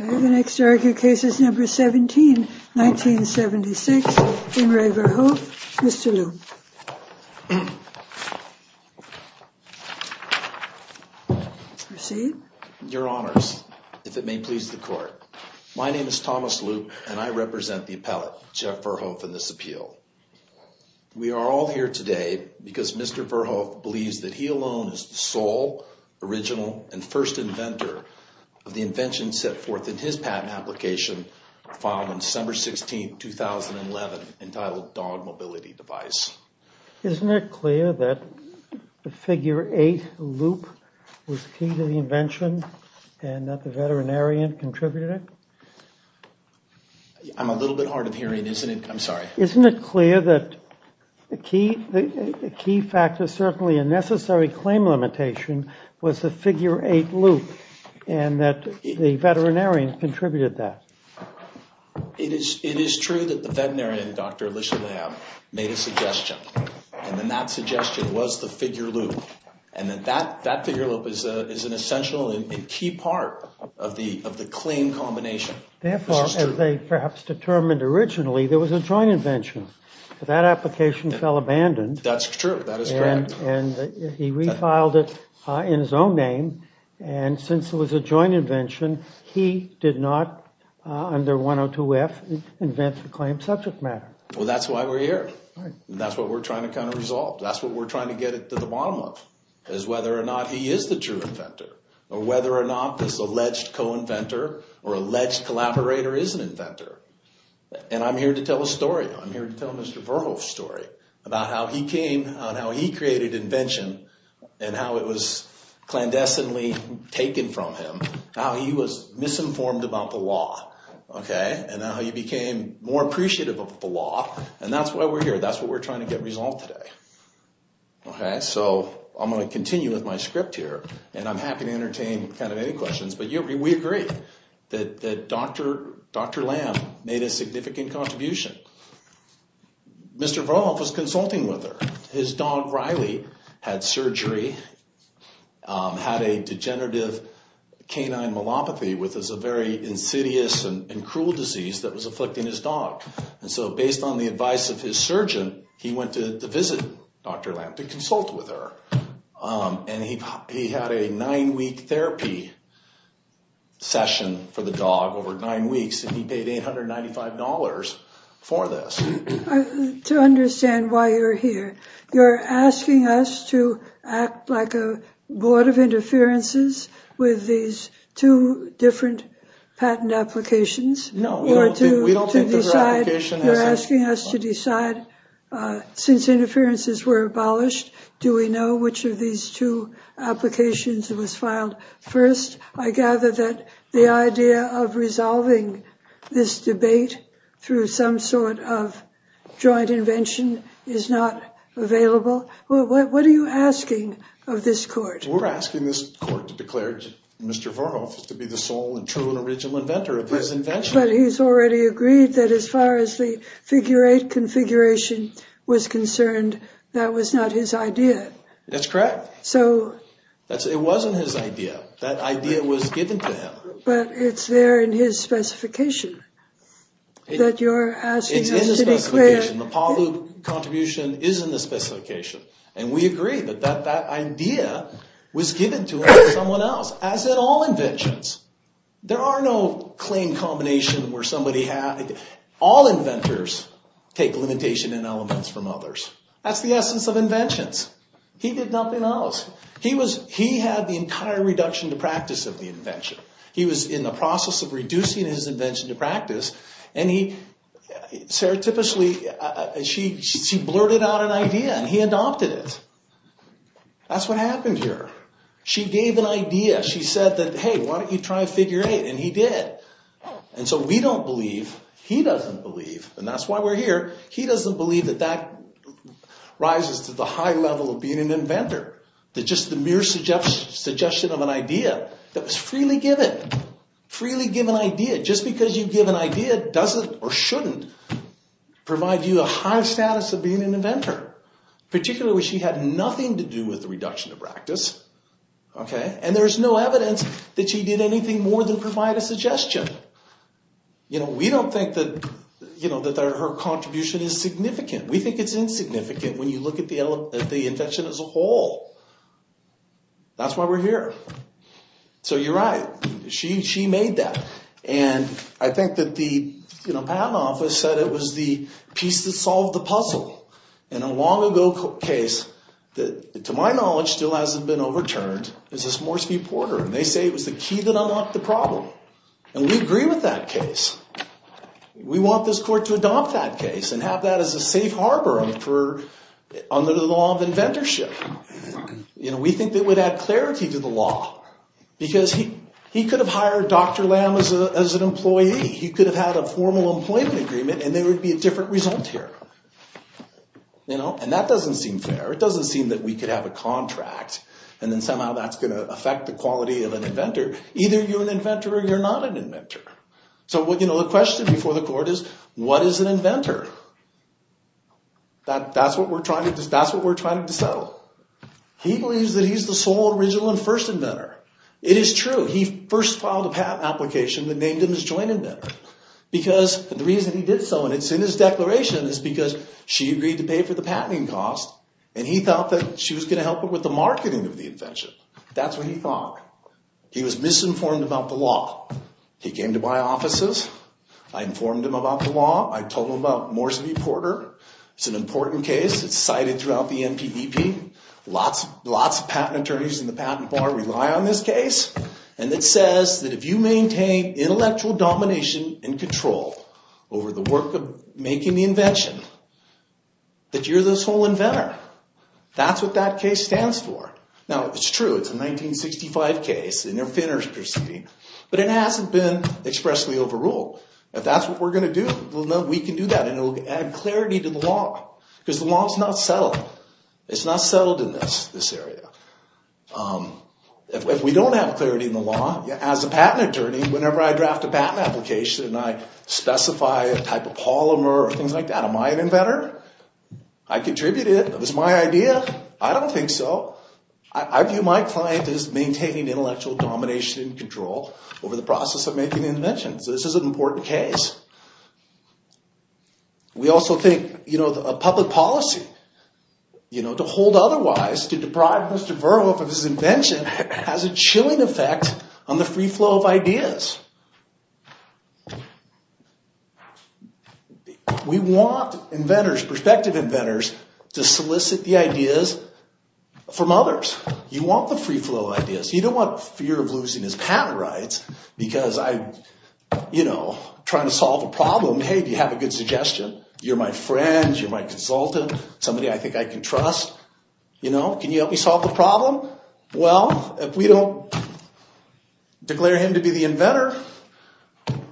The next argued case is number 17, 1976, in Re Verhoef, Mr. Loop. Your honors, if it may please the court. My name is Thomas Loop and I represent the appellate, Jeff Verhoef, in this appeal. We are all here today because Mr. Verhoef believes that he alone is the sole, original, and first inventor of the invention set forth in his patent application filed on December 16, 2011, entitled Dog Mobility Device. Isn't it clear that the figure 8, Loop, was key to the invention and that the veterinarian contributed it? I'm a little bit hard of hearing, isn't it? I'm sorry. Isn't it clear that a key factor, certainly a necessary claim limitation, was the figure 8, Loop, and that the veterinarian contributed that? It is true that the veterinarian, Dr. Alicia Lamb, made a suggestion, and that suggestion was the figure, Loop. And that figure, Loop, is an essential and key part of the claim combination. Therefore, as they perhaps determined originally, there was a joint invention. That application fell abandoned. That's true. That is correct. And he refiled it in his own name. And since it was a joint invention, he did not, under 102F, invent the claim subject matter. Well, that's why we're here. That's what we're trying to kind of resolve. That's what we're trying to get to the bottom of, is whether or not he is the true inventor, or whether or not this alleged co-inventor or alleged collaborator is an inventor. And I'm here to tell a story. I'm here to tell Mr. Verhoef's story about how he came and how he created invention and how it was clandestinely taken from him, how he was misinformed about the law, okay, and how he became more appreciative of the law. And that's why we're here. That's what we're trying to get resolved today. Okay, so I'm going to continue with my script here, and I'm happy to entertain kind of any questions. But we agree that Dr. Lamb made a significant contribution. Mr. Verhoef was consulting with her. His dog, Riley, had surgery, had a degenerative canine myelopathy, which is a very insidious and cruel disease that was afflicting his dog. And so based on the advice of his surgeon, he went to visit Dr. Lamb, to consult with her. And he had a nine-week therapy session for the dog, over nine weeks, and he paid $895 for this. To understand why you're here, you're asking us to act like a board of interferences with these two different patent applications? No, we don't think those are applications. You're asking us to decide, since interferences were abolished, do we know which of these two applications was filed first? I gather that the idea of resolving this debate through some sort of joint invention is not available. What are you asking of this court? We're asking this court to declare Mr. Verhoef to be the sole and true and original inventor of this invention. But he's already agreed that as far as the figure-eight configuration was concerned, that was not his idea. That's correct. So... It wasn't his idea. That idea was given to him. But it's there in his specification that you're asking us to declare... It's in the specification. The Paul Lube contribution is in the specification. And we agree that that idea was given to him by someone else, as in all inventions. There are no claim combination where somebody has... All inventors take limitation and elements from others. That's the essence of inventions. He did nothing else. He was... He had the entire reduction to practice of the invention. He was in the process of reducing his invention to practice. And he... Sarah typically... She blurted out an idea and he adopted it. That's what happened here. She gave an idea. She said that, hey, why don't you try figure-eight? And he did. And so we don't believe. He doesn't believe. And that's why we're here. He doesn't believe that that rises to the high level of being an inventor. That just the mere suggestion of an idea that was freely given. Freely given idea. Just because you give an idea doesn't or shouldn't provide you a high status of being an inventor. Particularly when she had nothing to do with the reduction to practice. Okay? And there's no evidence that she did anything more than provide a suggestion. You know, we don't think that her contribution is significant. We think it's insignificant when you look at the invention as a whole. That's why we're here. So you're right. She made that. And I think that the patent office said it was the piece that solved the puzzle. And a long-ago case that, to my knowledge, still hasn't been overturned is this Morski-Porter. And they say it was the key that unlocked the problem. And we agree with that case. We want this court to adopt that case and have that as a safe harbor under the law of inventorship. You know, we think that would add clarity to the law. Because he could have hired Dr. Lamb as an employee. He could have had a formal employment agreement, and there would be a different result here. You know? And that doesn't seem fair. It doesn't seem that we could have a contract, and then somehow that's going to affect the quality of an inventor. Either you're an inventor or you're not an inventor. So, you know, the question before the court is, what is an inventor? That's what we're trying to settle. He believes that he's the sole original and first inventor. It is true. He first filed a patent application that named him as joint inventor. Because the reason he did so, and it's in his declaration, is because she agreed to pay for the patenting cost. And he thought that she was going to help him with the marketing of the invention. That's what he thought. He was misinformed about the law. He came to my offices. I informed him about the law. I told him about Morski-Porter. It's an important case. It's cited throughout the NPDP. Lots of patent attorneys in the patent bar rely on this case. And it says that if you maintain intellectual domination and control over the work of making the invention, that you're the sole inventor. That's what that case stands for. Now, it's true. It's a 1965 case, and they're thinners, per se. But it hasn't been expressly overruled. If that's what we're going to do, we can do that. And it will add clarity to the law. Because the law is not settled. It's not settled in this area. If we don't have clarity in the law, as a patent attorney, whenever I draft a patent application and I specify a type of polymer or things like that, am I an inventor? I contributed. It was my idea. I don't think so. I view my client as maintaining intellectual domination and control over the process of making the invention. So this is an important case. We also think a public policy to hold otherwise, to deprive Mr. Verhoeff of his invention, has a chilling effect on the free flow of ideas. We want inventors, prospective inventors, to solicit the ideas from others. You want the free flow of ideas. You don't want fear of losing his patent rights because I'm trying to solve a problem. Hey, do you have a good suggestion? You're my friend. You're my consultant. Somebody I think I can trust. Can you help me solve the problem? Well, if we don't declare him to be the inventor,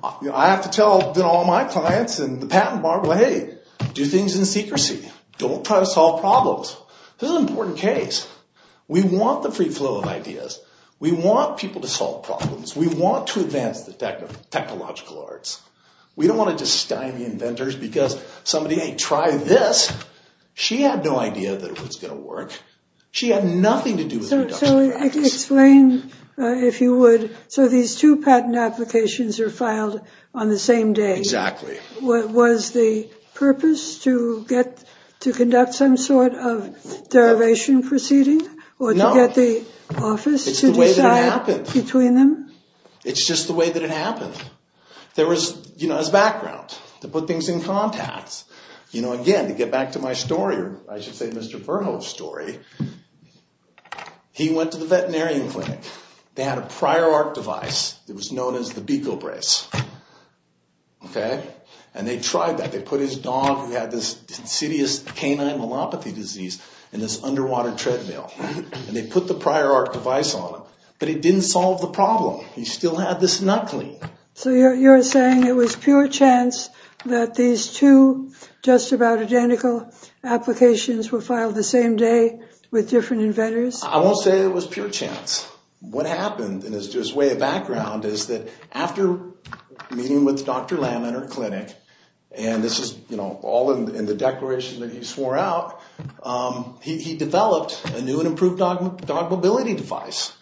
I have to tell all my clients in the patent bar, hey, do things in secrecy. Don't try to solve problems. This is an important case. We want the free flow of ideas. We want people to solve problems. We want to advance the technological arts. We don't want to just stymie inventors because somebody, hey, try this. She had no idea that it was going to work. She had nothing to do with production. So explain, if you would, so these two patent applications are filed on the same day. Exactly. Was the purpose to conduct some sort of derivation proceeding? No. Or to get the office to decide between them? It's just the way that it happened. There was, you know, as background, to put things in context. You know, again, to get back to my story, or I should say Mr. Verhoff's story, he went to the veterinarian clinic. They had a prior art device. It was known as the Beco brace. Okay? And they tried that. They put his dog, who had this insidious canine myelopathy disease, in this underwater treadmill. And they put the prior art device on him. But it didn't solve the problem. He still had this nut clean. So you're saying it was pure chance that these two just about identical applications were filed the same day with different inventors? I won't say it was pure chance. What happened in his way of background is that after meeting with Dr. Lamb in her clinic, and this is, you know, all in the declaration that he swore out, he developed a new and improved dog mobility device.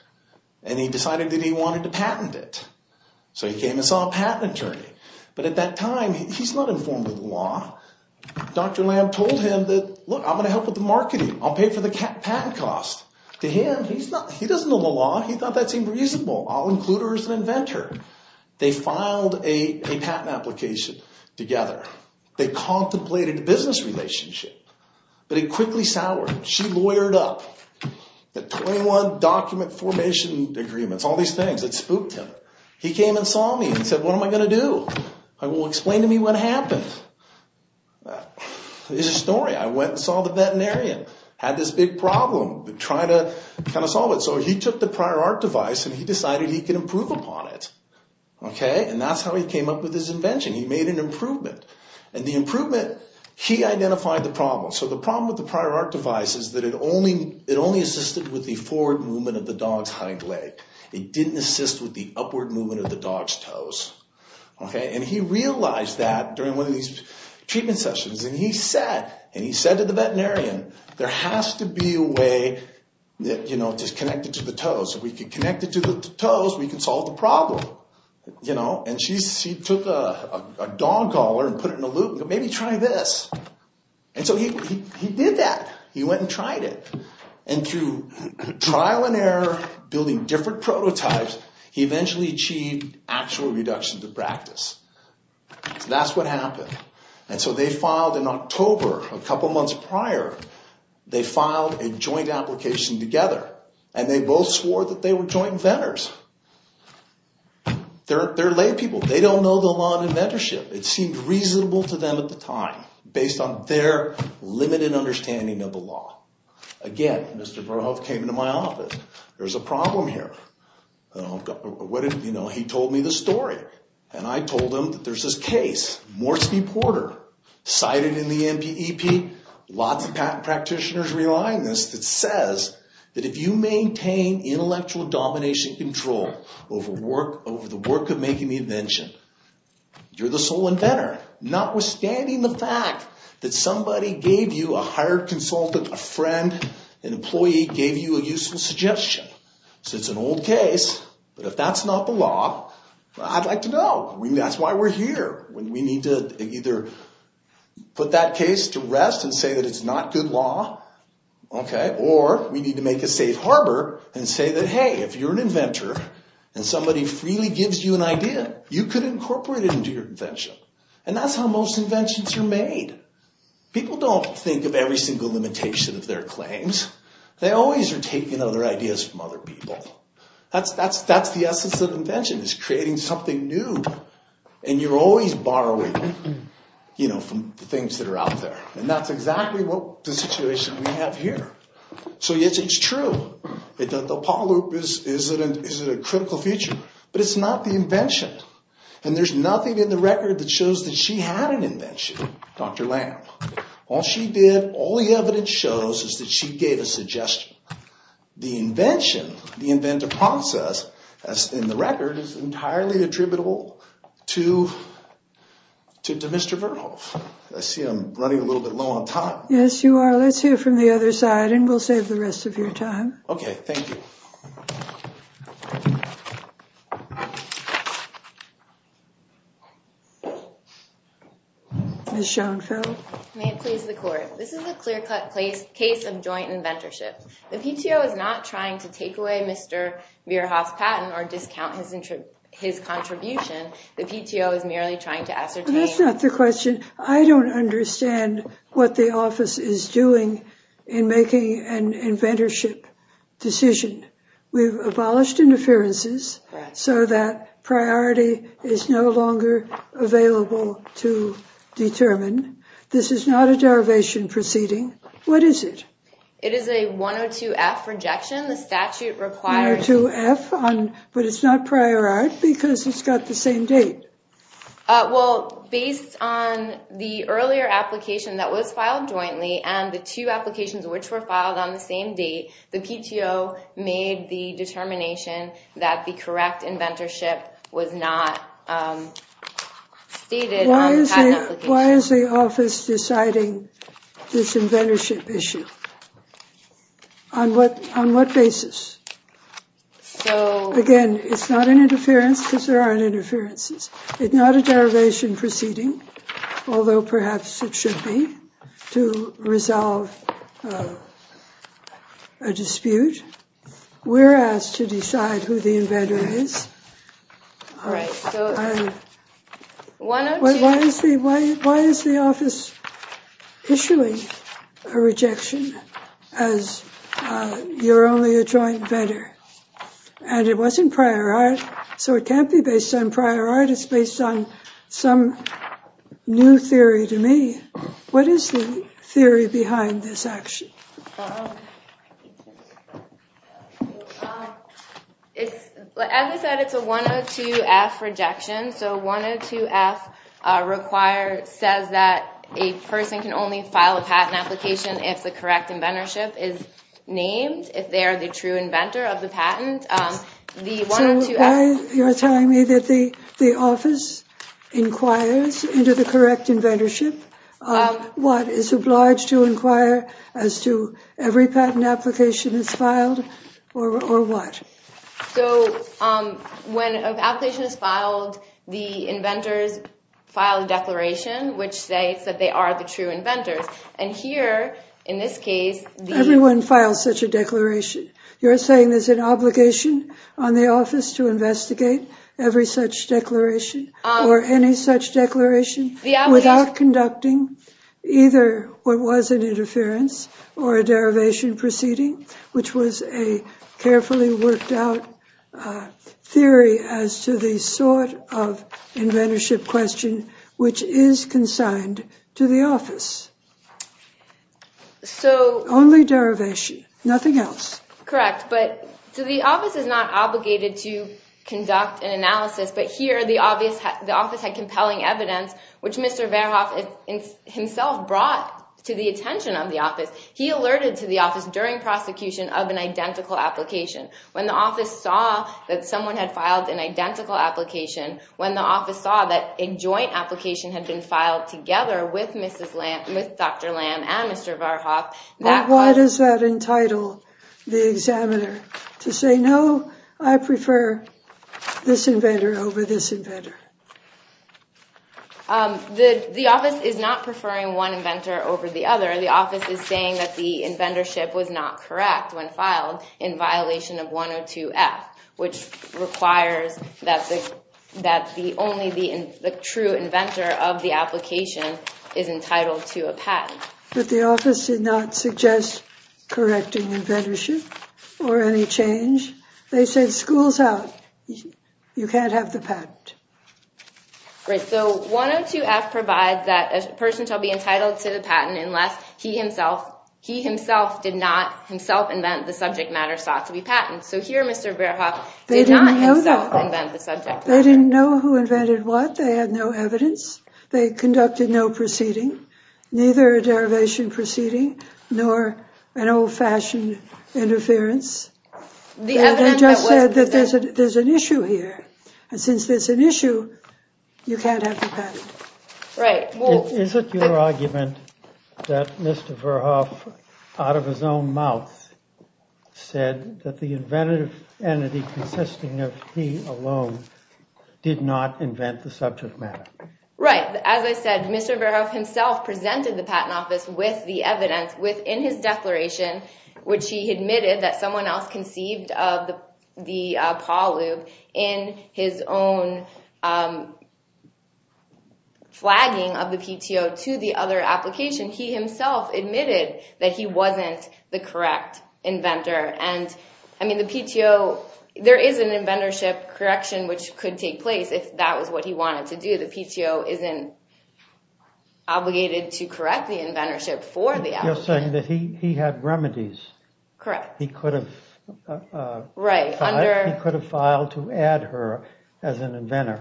And he decided that he wanted to patent it. So he came and saw a patent attorney. But at that time, he's not informed of the law. Dr. Lamb told him that, look, I'm going to help with the marketing. I'll pay for the patent cost. To him, he doesn't know the law. He thought that seemed reasonable. I'll include her as an inventor. They filed a patent application together. They contemplated a business relationship. But it quickly soured. She lawyered up. The 21 document formation agreements, all these things, it spooked him. He came and saw me and said, what am I going to do? Well, explain to me what happened. It's a story. I went and saw the veterinarian. Had this big problem, trying to kind of solve it. So he took the prior art device, and he decided he could improve upon it. Okay? And that's how he came up with his invention. He made an improvement. And the improvement, he identified the problem. So the problem with the prior art device is that it only assisted with the forward movement of the dog's hind leg. It didn't assist with the upward movement of the dog's toes. Okay? And he realized that during one of these treatment sessions. And he said, and he said to the veterinarian, there has to be a way that, you know, to connect it to the toes. If we can connect it to the toes, we can solve the problem. You know? And she took a dog collar and put it in a loop and said, maybe try this. And so he did that. He went and tried it. And through trial and error, building different prototypes, he eventually achieved actual reductions of practice. So that's what happened. And so they filed in October, a couple months prior, they filed a joint application together. And they both swore that they were joint inventors. They're lay people. They don't know the law of inventorship. It seemed reasonable to them at the time based on their limited understanding of the law. Again, Mr. Verhoeff came into my office. There's a problem here. You know, he told me the story. And I told him that there's this case, Morski-Porter, cited in the NPEP. Lots of patent practitioners rely on this. It says that if you maintain intellectual domination control over the work of making the invention, you're the sole inventor. Notwithstanding the fact that somebody gave you, a hired consultant, a friend, an employee gave you a useful suggestion. So it's an old case. But if that's not the law, I'd like to know. That's why we're here. We need to either put that case to rest and say that it's not good law. Or we need to make a safe harbor and say that, hey, if you're an inventor and somebody freely gives you an idea, you could incorporate it into your invention. And that's how most inventions are made. People don't think of every single limitation of their claims. They always are taking other ideas from other people. That's the essence of invention, is creating something new. And you're always borrowing, you know, from the things that are out there. And that's exactly what the situation we have here. So yes, it's true. The Apollo is a critical feature. But it's not the invention. And there's nothing in the record that shows that she had an invention, Dr. Lamb. All she did, all the evidence shows, is that she gave a suggestion. The invention, the inventor process, as in the record, is entirely attributable to Mr. Vernhoff. I see I'm running a little bit low on time. Yes, you are. Let's hear from the other side, and we'll save the rest of your time. Okay, thank you. Ms. Schoenfeld. May it please the court. This is a clear-cut case of joint inventorship. The PTO is not trying to take away Mr. Vernhoff's patent or discount his contribution. The PTO is merely trying to ascertain— That's not the question. I don't understand what the office is doing in making an inventorship decision. We've abolished interferences so that priority is no longer available to determine. This is not a derivation proceeding. What is it? It is a 102-F rejection. The statute requires— 102-F, but it's not prior art because it's got the same date. Well, based on the earlier application that was filed jointly and the two applications which were filed on the same date, the PTO made the determination that the correct inventorship was not stated on the patent application. Why is the office deciding this inventorship issue? On what basis? Again, it's not an interference because there aren't interferences. It's not a derivation proceeding, although perhaps it should be to resolve a dispute. We're asked to decide who the inventor is. Why is the office issuing a rejection as you're only a joint inventor? And it wasn't prior art, so it can't be based on prior art. It's based on some new theory to me. What is the theory behind this action? As I said, it's a 102-F rejection. So 102-F says that a person can only file a patent application if the correct inventorship is named, if they are the true inventor of the patent. So why are you telling me that the office inquires into the correct inventorship? What, is obliged to inquire as to every patent application that's filed, or what? So when an application is filed, the inventors file a declaration which states that they are the true inventors. And here, in this case, the- Everyone files such a declaration. You're saying there's an obligation on the office to investigate every such declaration, or any such declaration, without conducting either what was an interference or a derivation proceeding, which was a carefully worked out theory as to the sort of inventorship question which is consigned to the office. So- Only derivation, nothing else. Correct, but- So the office is not obligated to conduct an analysis, but here the office had compelling evidence, which Mr. Verhoff himself brought to the attention of the office. He alerted to the office during prosecution of an identical application. When the office saw that someone had filed an identical application, when the office saw that a joint application had been filed together with Dr. Lamb and Mr. Verhoff- Why does that entitle the examiner to say, no, I prefer this inventor over this inventor? The office is not preferring one inventor over the other. The office is saying that the inventorship was not correct when filed in violation of 102F, which requires that only the true inventor of the application is entitled to a patent. But the office did not suggest correcting inventorship or any change. They said, school's out. You can't have the patent. Right, so 102F provides that a person shall be entitled to the patent unless he himself- he himself did not himself invent the subject matter sought to be patented. So here Mr. Verhoff- They didn't know that. Did not himself invent the subject matter. They didn't know who invented what. They had no evidence. They conducted no proceeding, neither a derivation proceeding, nor an old fashioned interference. They just said that there's an issue here. And since there's an issue, you can't have the patent. Right. Is it your argument that Mr. Verhoff, out of his own mouth, said that the inventive entity consisting of he alone did not invent the subject matter? Right. As I said, Mr. Verhoff himself presented the Patent Office with the evidence within his declaration, which he admitted that someone else conceived of the Paul lube in his own flagging of the PTO to the other application. He himself admitted that he wasn't the correct inventor. And, I mean, the PTO- There is an inventorship correction which could take place if that was what he wanted to do. The PTO isn't obligated to correct the inventorship for the application. You're saying that he had remedies. Correct. He could have filed to add her as an inventor.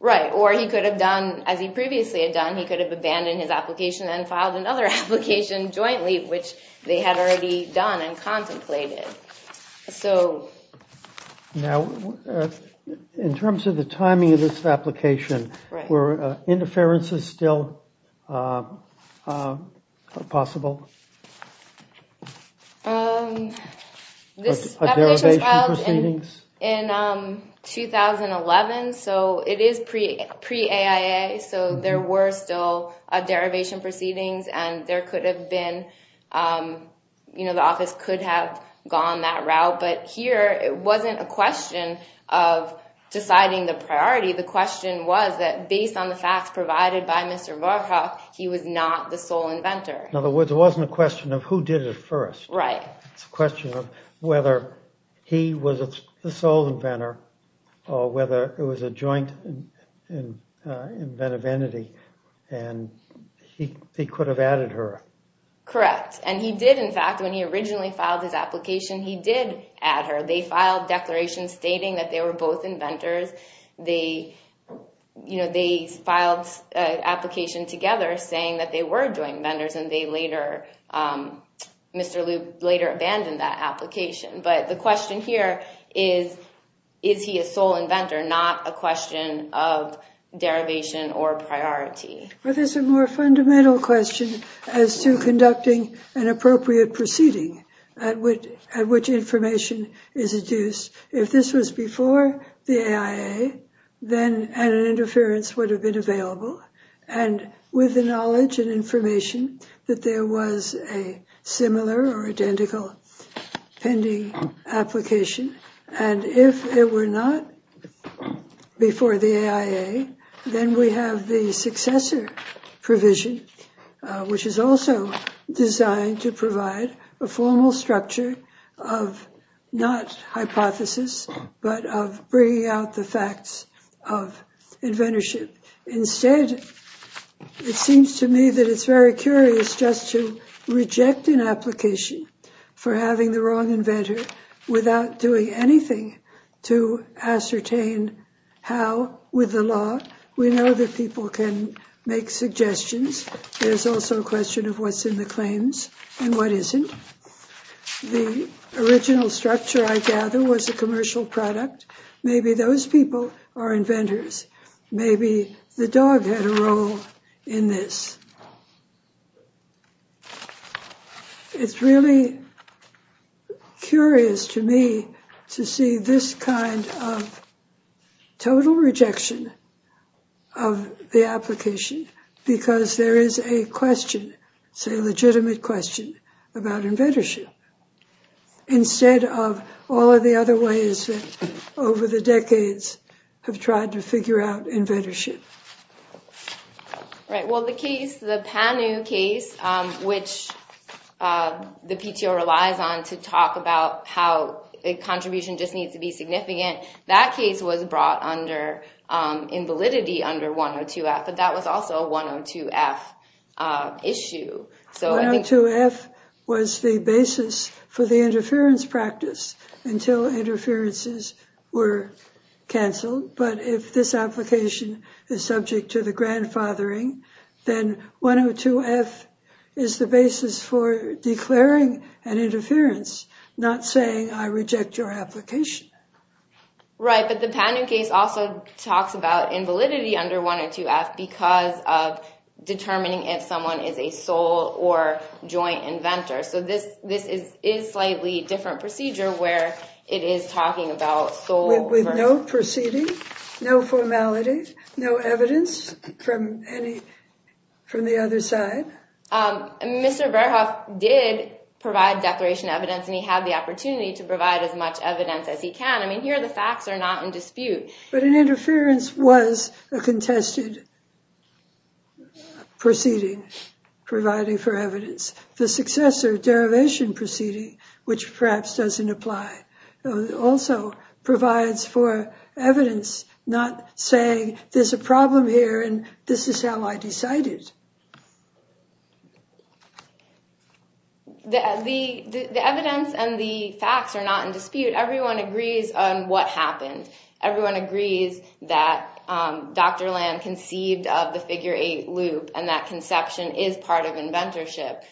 Right. Or he could have done, as he previously had done, he could have abandoned his application and filed another application jointly, which they had already done and contemplated. Now, in terms of the timing of this application, were interferences still possible? This application was filed in 2011, so it is pre-AIA, so there were still derivation proceedings and there could have been, you know, the office could have gone that route, but here it wasn't a question of deciding the priority. The question was that based on the facts provided by Mr. Warthoff, he was not the sole inventor. In other words, it wasn't a question of who did it first. Right. It's a question of whether he was the sole inventor or whether it was a joint inventive entity and he could have added her. Correct. And he did, in fact, when he originally filed his application, he did add her. They filed declarations stating that they were both inventors. They, you know, they filed an application together saying that they were joint inventors and they later, Mr. Lube later abandoned that application. But the question here is, is he a sole inventor, not a question of derivation or priority. Well, there's a more fundamental question as to conducting an appropriate proceeding at which information is adduced. If this was before the AIA, then an interference would have been available and with the knowledge and information that there was a similar or identical pending application. And if it were not before the AIA, then we have the successor provision, which is also designed to provide a formal structure of not hypothesis, but of bringing out the facts of inventorship. Instead, it seems to me that it's very curious just to reject an application for having the wrong inventor without doing anything to ascertain how with the law. We know that people can make suggestions. There's also a question of what's in the claims and what isn't. The original structure, I gather, was a commercial product. Maybe those people are inventors. Maybe the dog had a role in this. It's really curious to me to see this kind of total rejection of the application because there is a question, a legitimate question, about inventorship instead of all of the other ways that over the decades have tried to figure out inventorship. The PANU case, which the PTO relies on to talk about how a contribution just needs to be significant, that case was brought under, in validity, under 102F. But that was also a 102F issue. 102F was the basis for the interference practice until interferences were canceled. But if this application is subject to the grandfathering, then 102F is the basis for declaring an interference, not saying, I reject your application. Right, but the PANU case also talks about invalidity under 102F because of determining if someone is a sole or joint inventor. So this is a slightly different procedure where it is talking about sole... With no proceeding, no formality, no evidence from the other side? Mr. Verhoff did provide declaration evidence, and he had the opportunity to provide as much evidence as he can. I mean, here the facts are not in dispute. The successor derivation proceeding, which perhaps doesn't apply, also provides for evidence not saying, there's a problem here, and this is how I decided. The evidence and the facts are not in dispute. Everyone agrees on what happened. Everyone agrees that Dr. Lamb conceived of the figure 8 loop, and that conception is part of inventorship.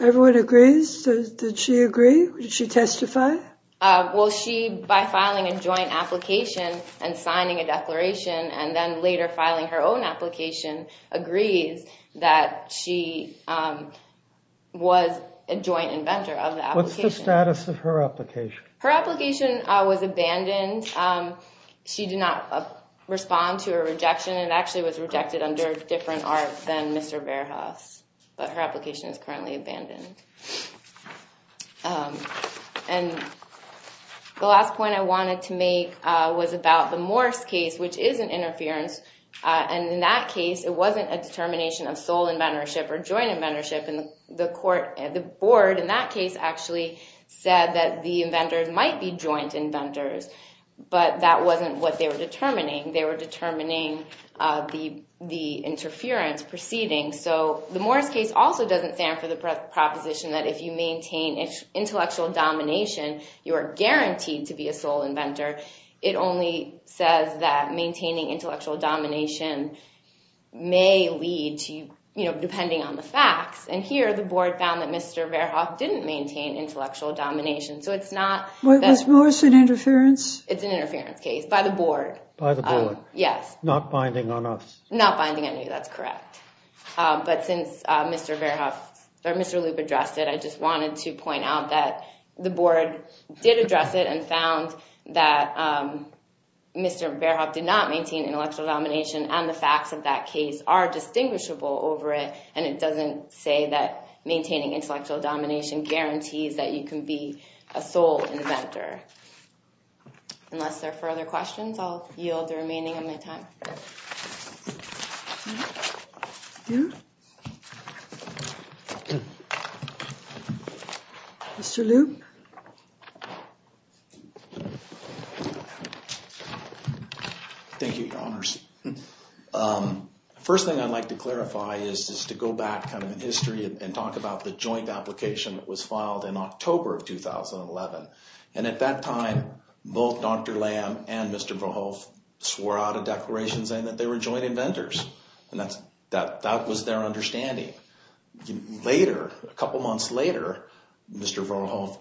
Everyone agrees? Did she agree? Did she testify? Well, she, by filing a joint application and signing a declaration, and then later filing her own application, agrees that she was a joint inventor of the application. What's the status of her application? Her application was abandoned. She did not respond to a rejection. It actually was rejected under a different art than Mr. Verhoff's, but her application is currently abandoned. The last point I wanted to make was about the Morse case, which is an interference. In that case, it wasn't a determination of sole inventorship or joint inventorship. The board in that case actually said that the inventors might be joint inventors, but that wasn't what they were determining. They were determining the interference proceeding. So the Morse case also doesn't stand for the proposition that if you maintain intellectual domination, you are guaranteed to be a sole inventor. It only says that maintaining intellectual domination may lead to, you know, depending on the facts. And here the board found that Mr. Verhoff didn't maintain intellectual domination. So it's not that… Was Morse an interference? It's an interference case by the board. By the board. Yes. Not binding on us. Not binding on you, that's correct. But since Mr. Verhoff or Mr. Lupe addressed it, I just wanted to point out that the board did address it and found that Mr. Verhoff did not maintain intellectual domination and the facts of that case are distinguishable over it, and it doesn't say that maintaining intellectual domination guarantees that you can be a sole inventor. Unless there are further questions, I'll yield the remaining of my time. Mr. Lupe? Thank you, Your Honors. First thing I'd like to clarify is just to go back kind of in history and talk about the joint application that was filed in October of 2011. And at that time, both Dr. Lamb and Mr. Verhoff swore out a declaration saying that they were joint inventors. And that was their understanding. Later, a couple months later, Mr. Verhoff,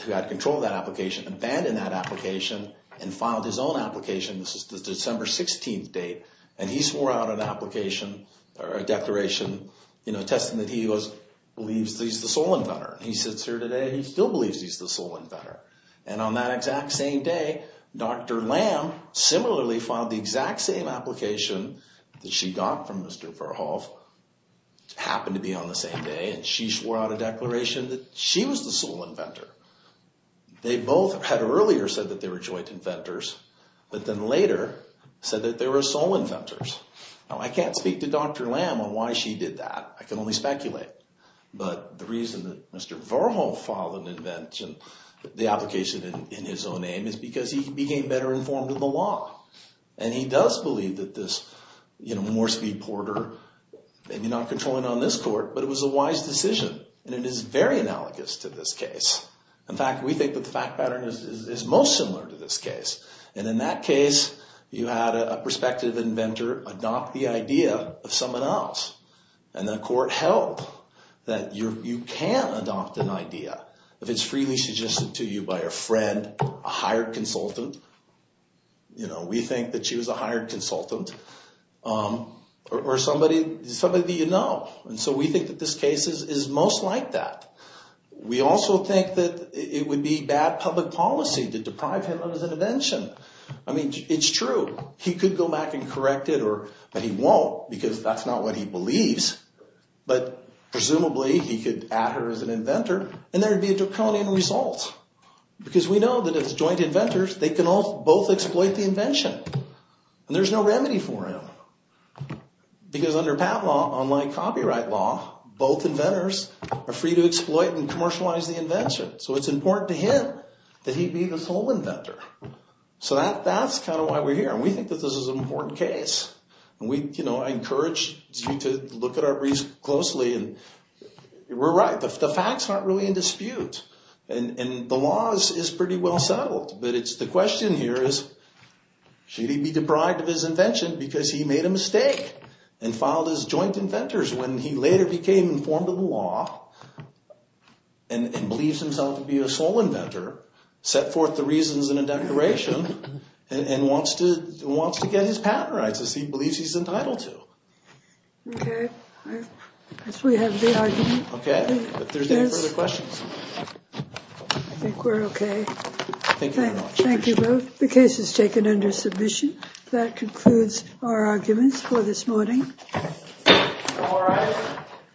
who had control of that application, abandoned that application and filed his own application. This is the December 16th date. And he swore out an application or a declaration, you know, attesting that he was…believes that he's the sole inventor. He sits here today and he still believes he's the sole inventor. And on that exact same day, Dr. Lamb similarly filed the exact same application that she got from Mr. Verhoff, happened to be on the same day, and she swore out a declaration that she was the sole inventor. They both had earlier said that they were joint inventors, but then later said that they were sole inventors. Now, I can't speak to Dr. Lamb on why she did that. I can only speculate. But the reason that Mr. Verhoff filed an invention, the application in his own name, is because he became better informed of the law. And he does believe that this, you know, Moresby-Porter, maybe not controlling on this court, but it was a wise decision. And it is very analogous to this case. In fact, we think that the fact pattern is most similar to this case. And in that case, you had a prospective inventor adopt the idea of someone else. And the court held that you can adopt an idea if it's freely suggested to you by a friend, a hired consultant, you know, we think that she was a hired consultant, or somebody that you know. And so we think that this case is most like that. We also think that it would be bad public policy to deprive him of his invention. I mean, it's true. He could go back and correct it, but he won't, because that's not what he believes. But presumably, he could add her as an inventor, and there would be a draconian result. Because we know that as joint inventors, they can both exploit the invention. And there's no remedy for him. Because under patent law, unlike copyright law, both inventors are free to exploit and commercialize the invention. So it's important to him that he be the sole inventor. So that's kind of why we're here. And we think that this is an important case. And, you know, I encourage you to look at our briefs closely. And we're right. The facts aren't really in dispute. And the law is pretty well settled. But the question here is, should he be deprived of his invention because he made a mistake and filed as joint inventors when he later became informed of the law and believes himself to be a sole inventor, set forth the reasons in a declaration, and wants to get his patent rights as he believes he's entitled to? Okay. I guess we have the argument. Okay. If there's any further questions. I think we're okay. Thank you very much. Thank you both. The case is taken under submission. That concludes our arguments for this morning. All rise.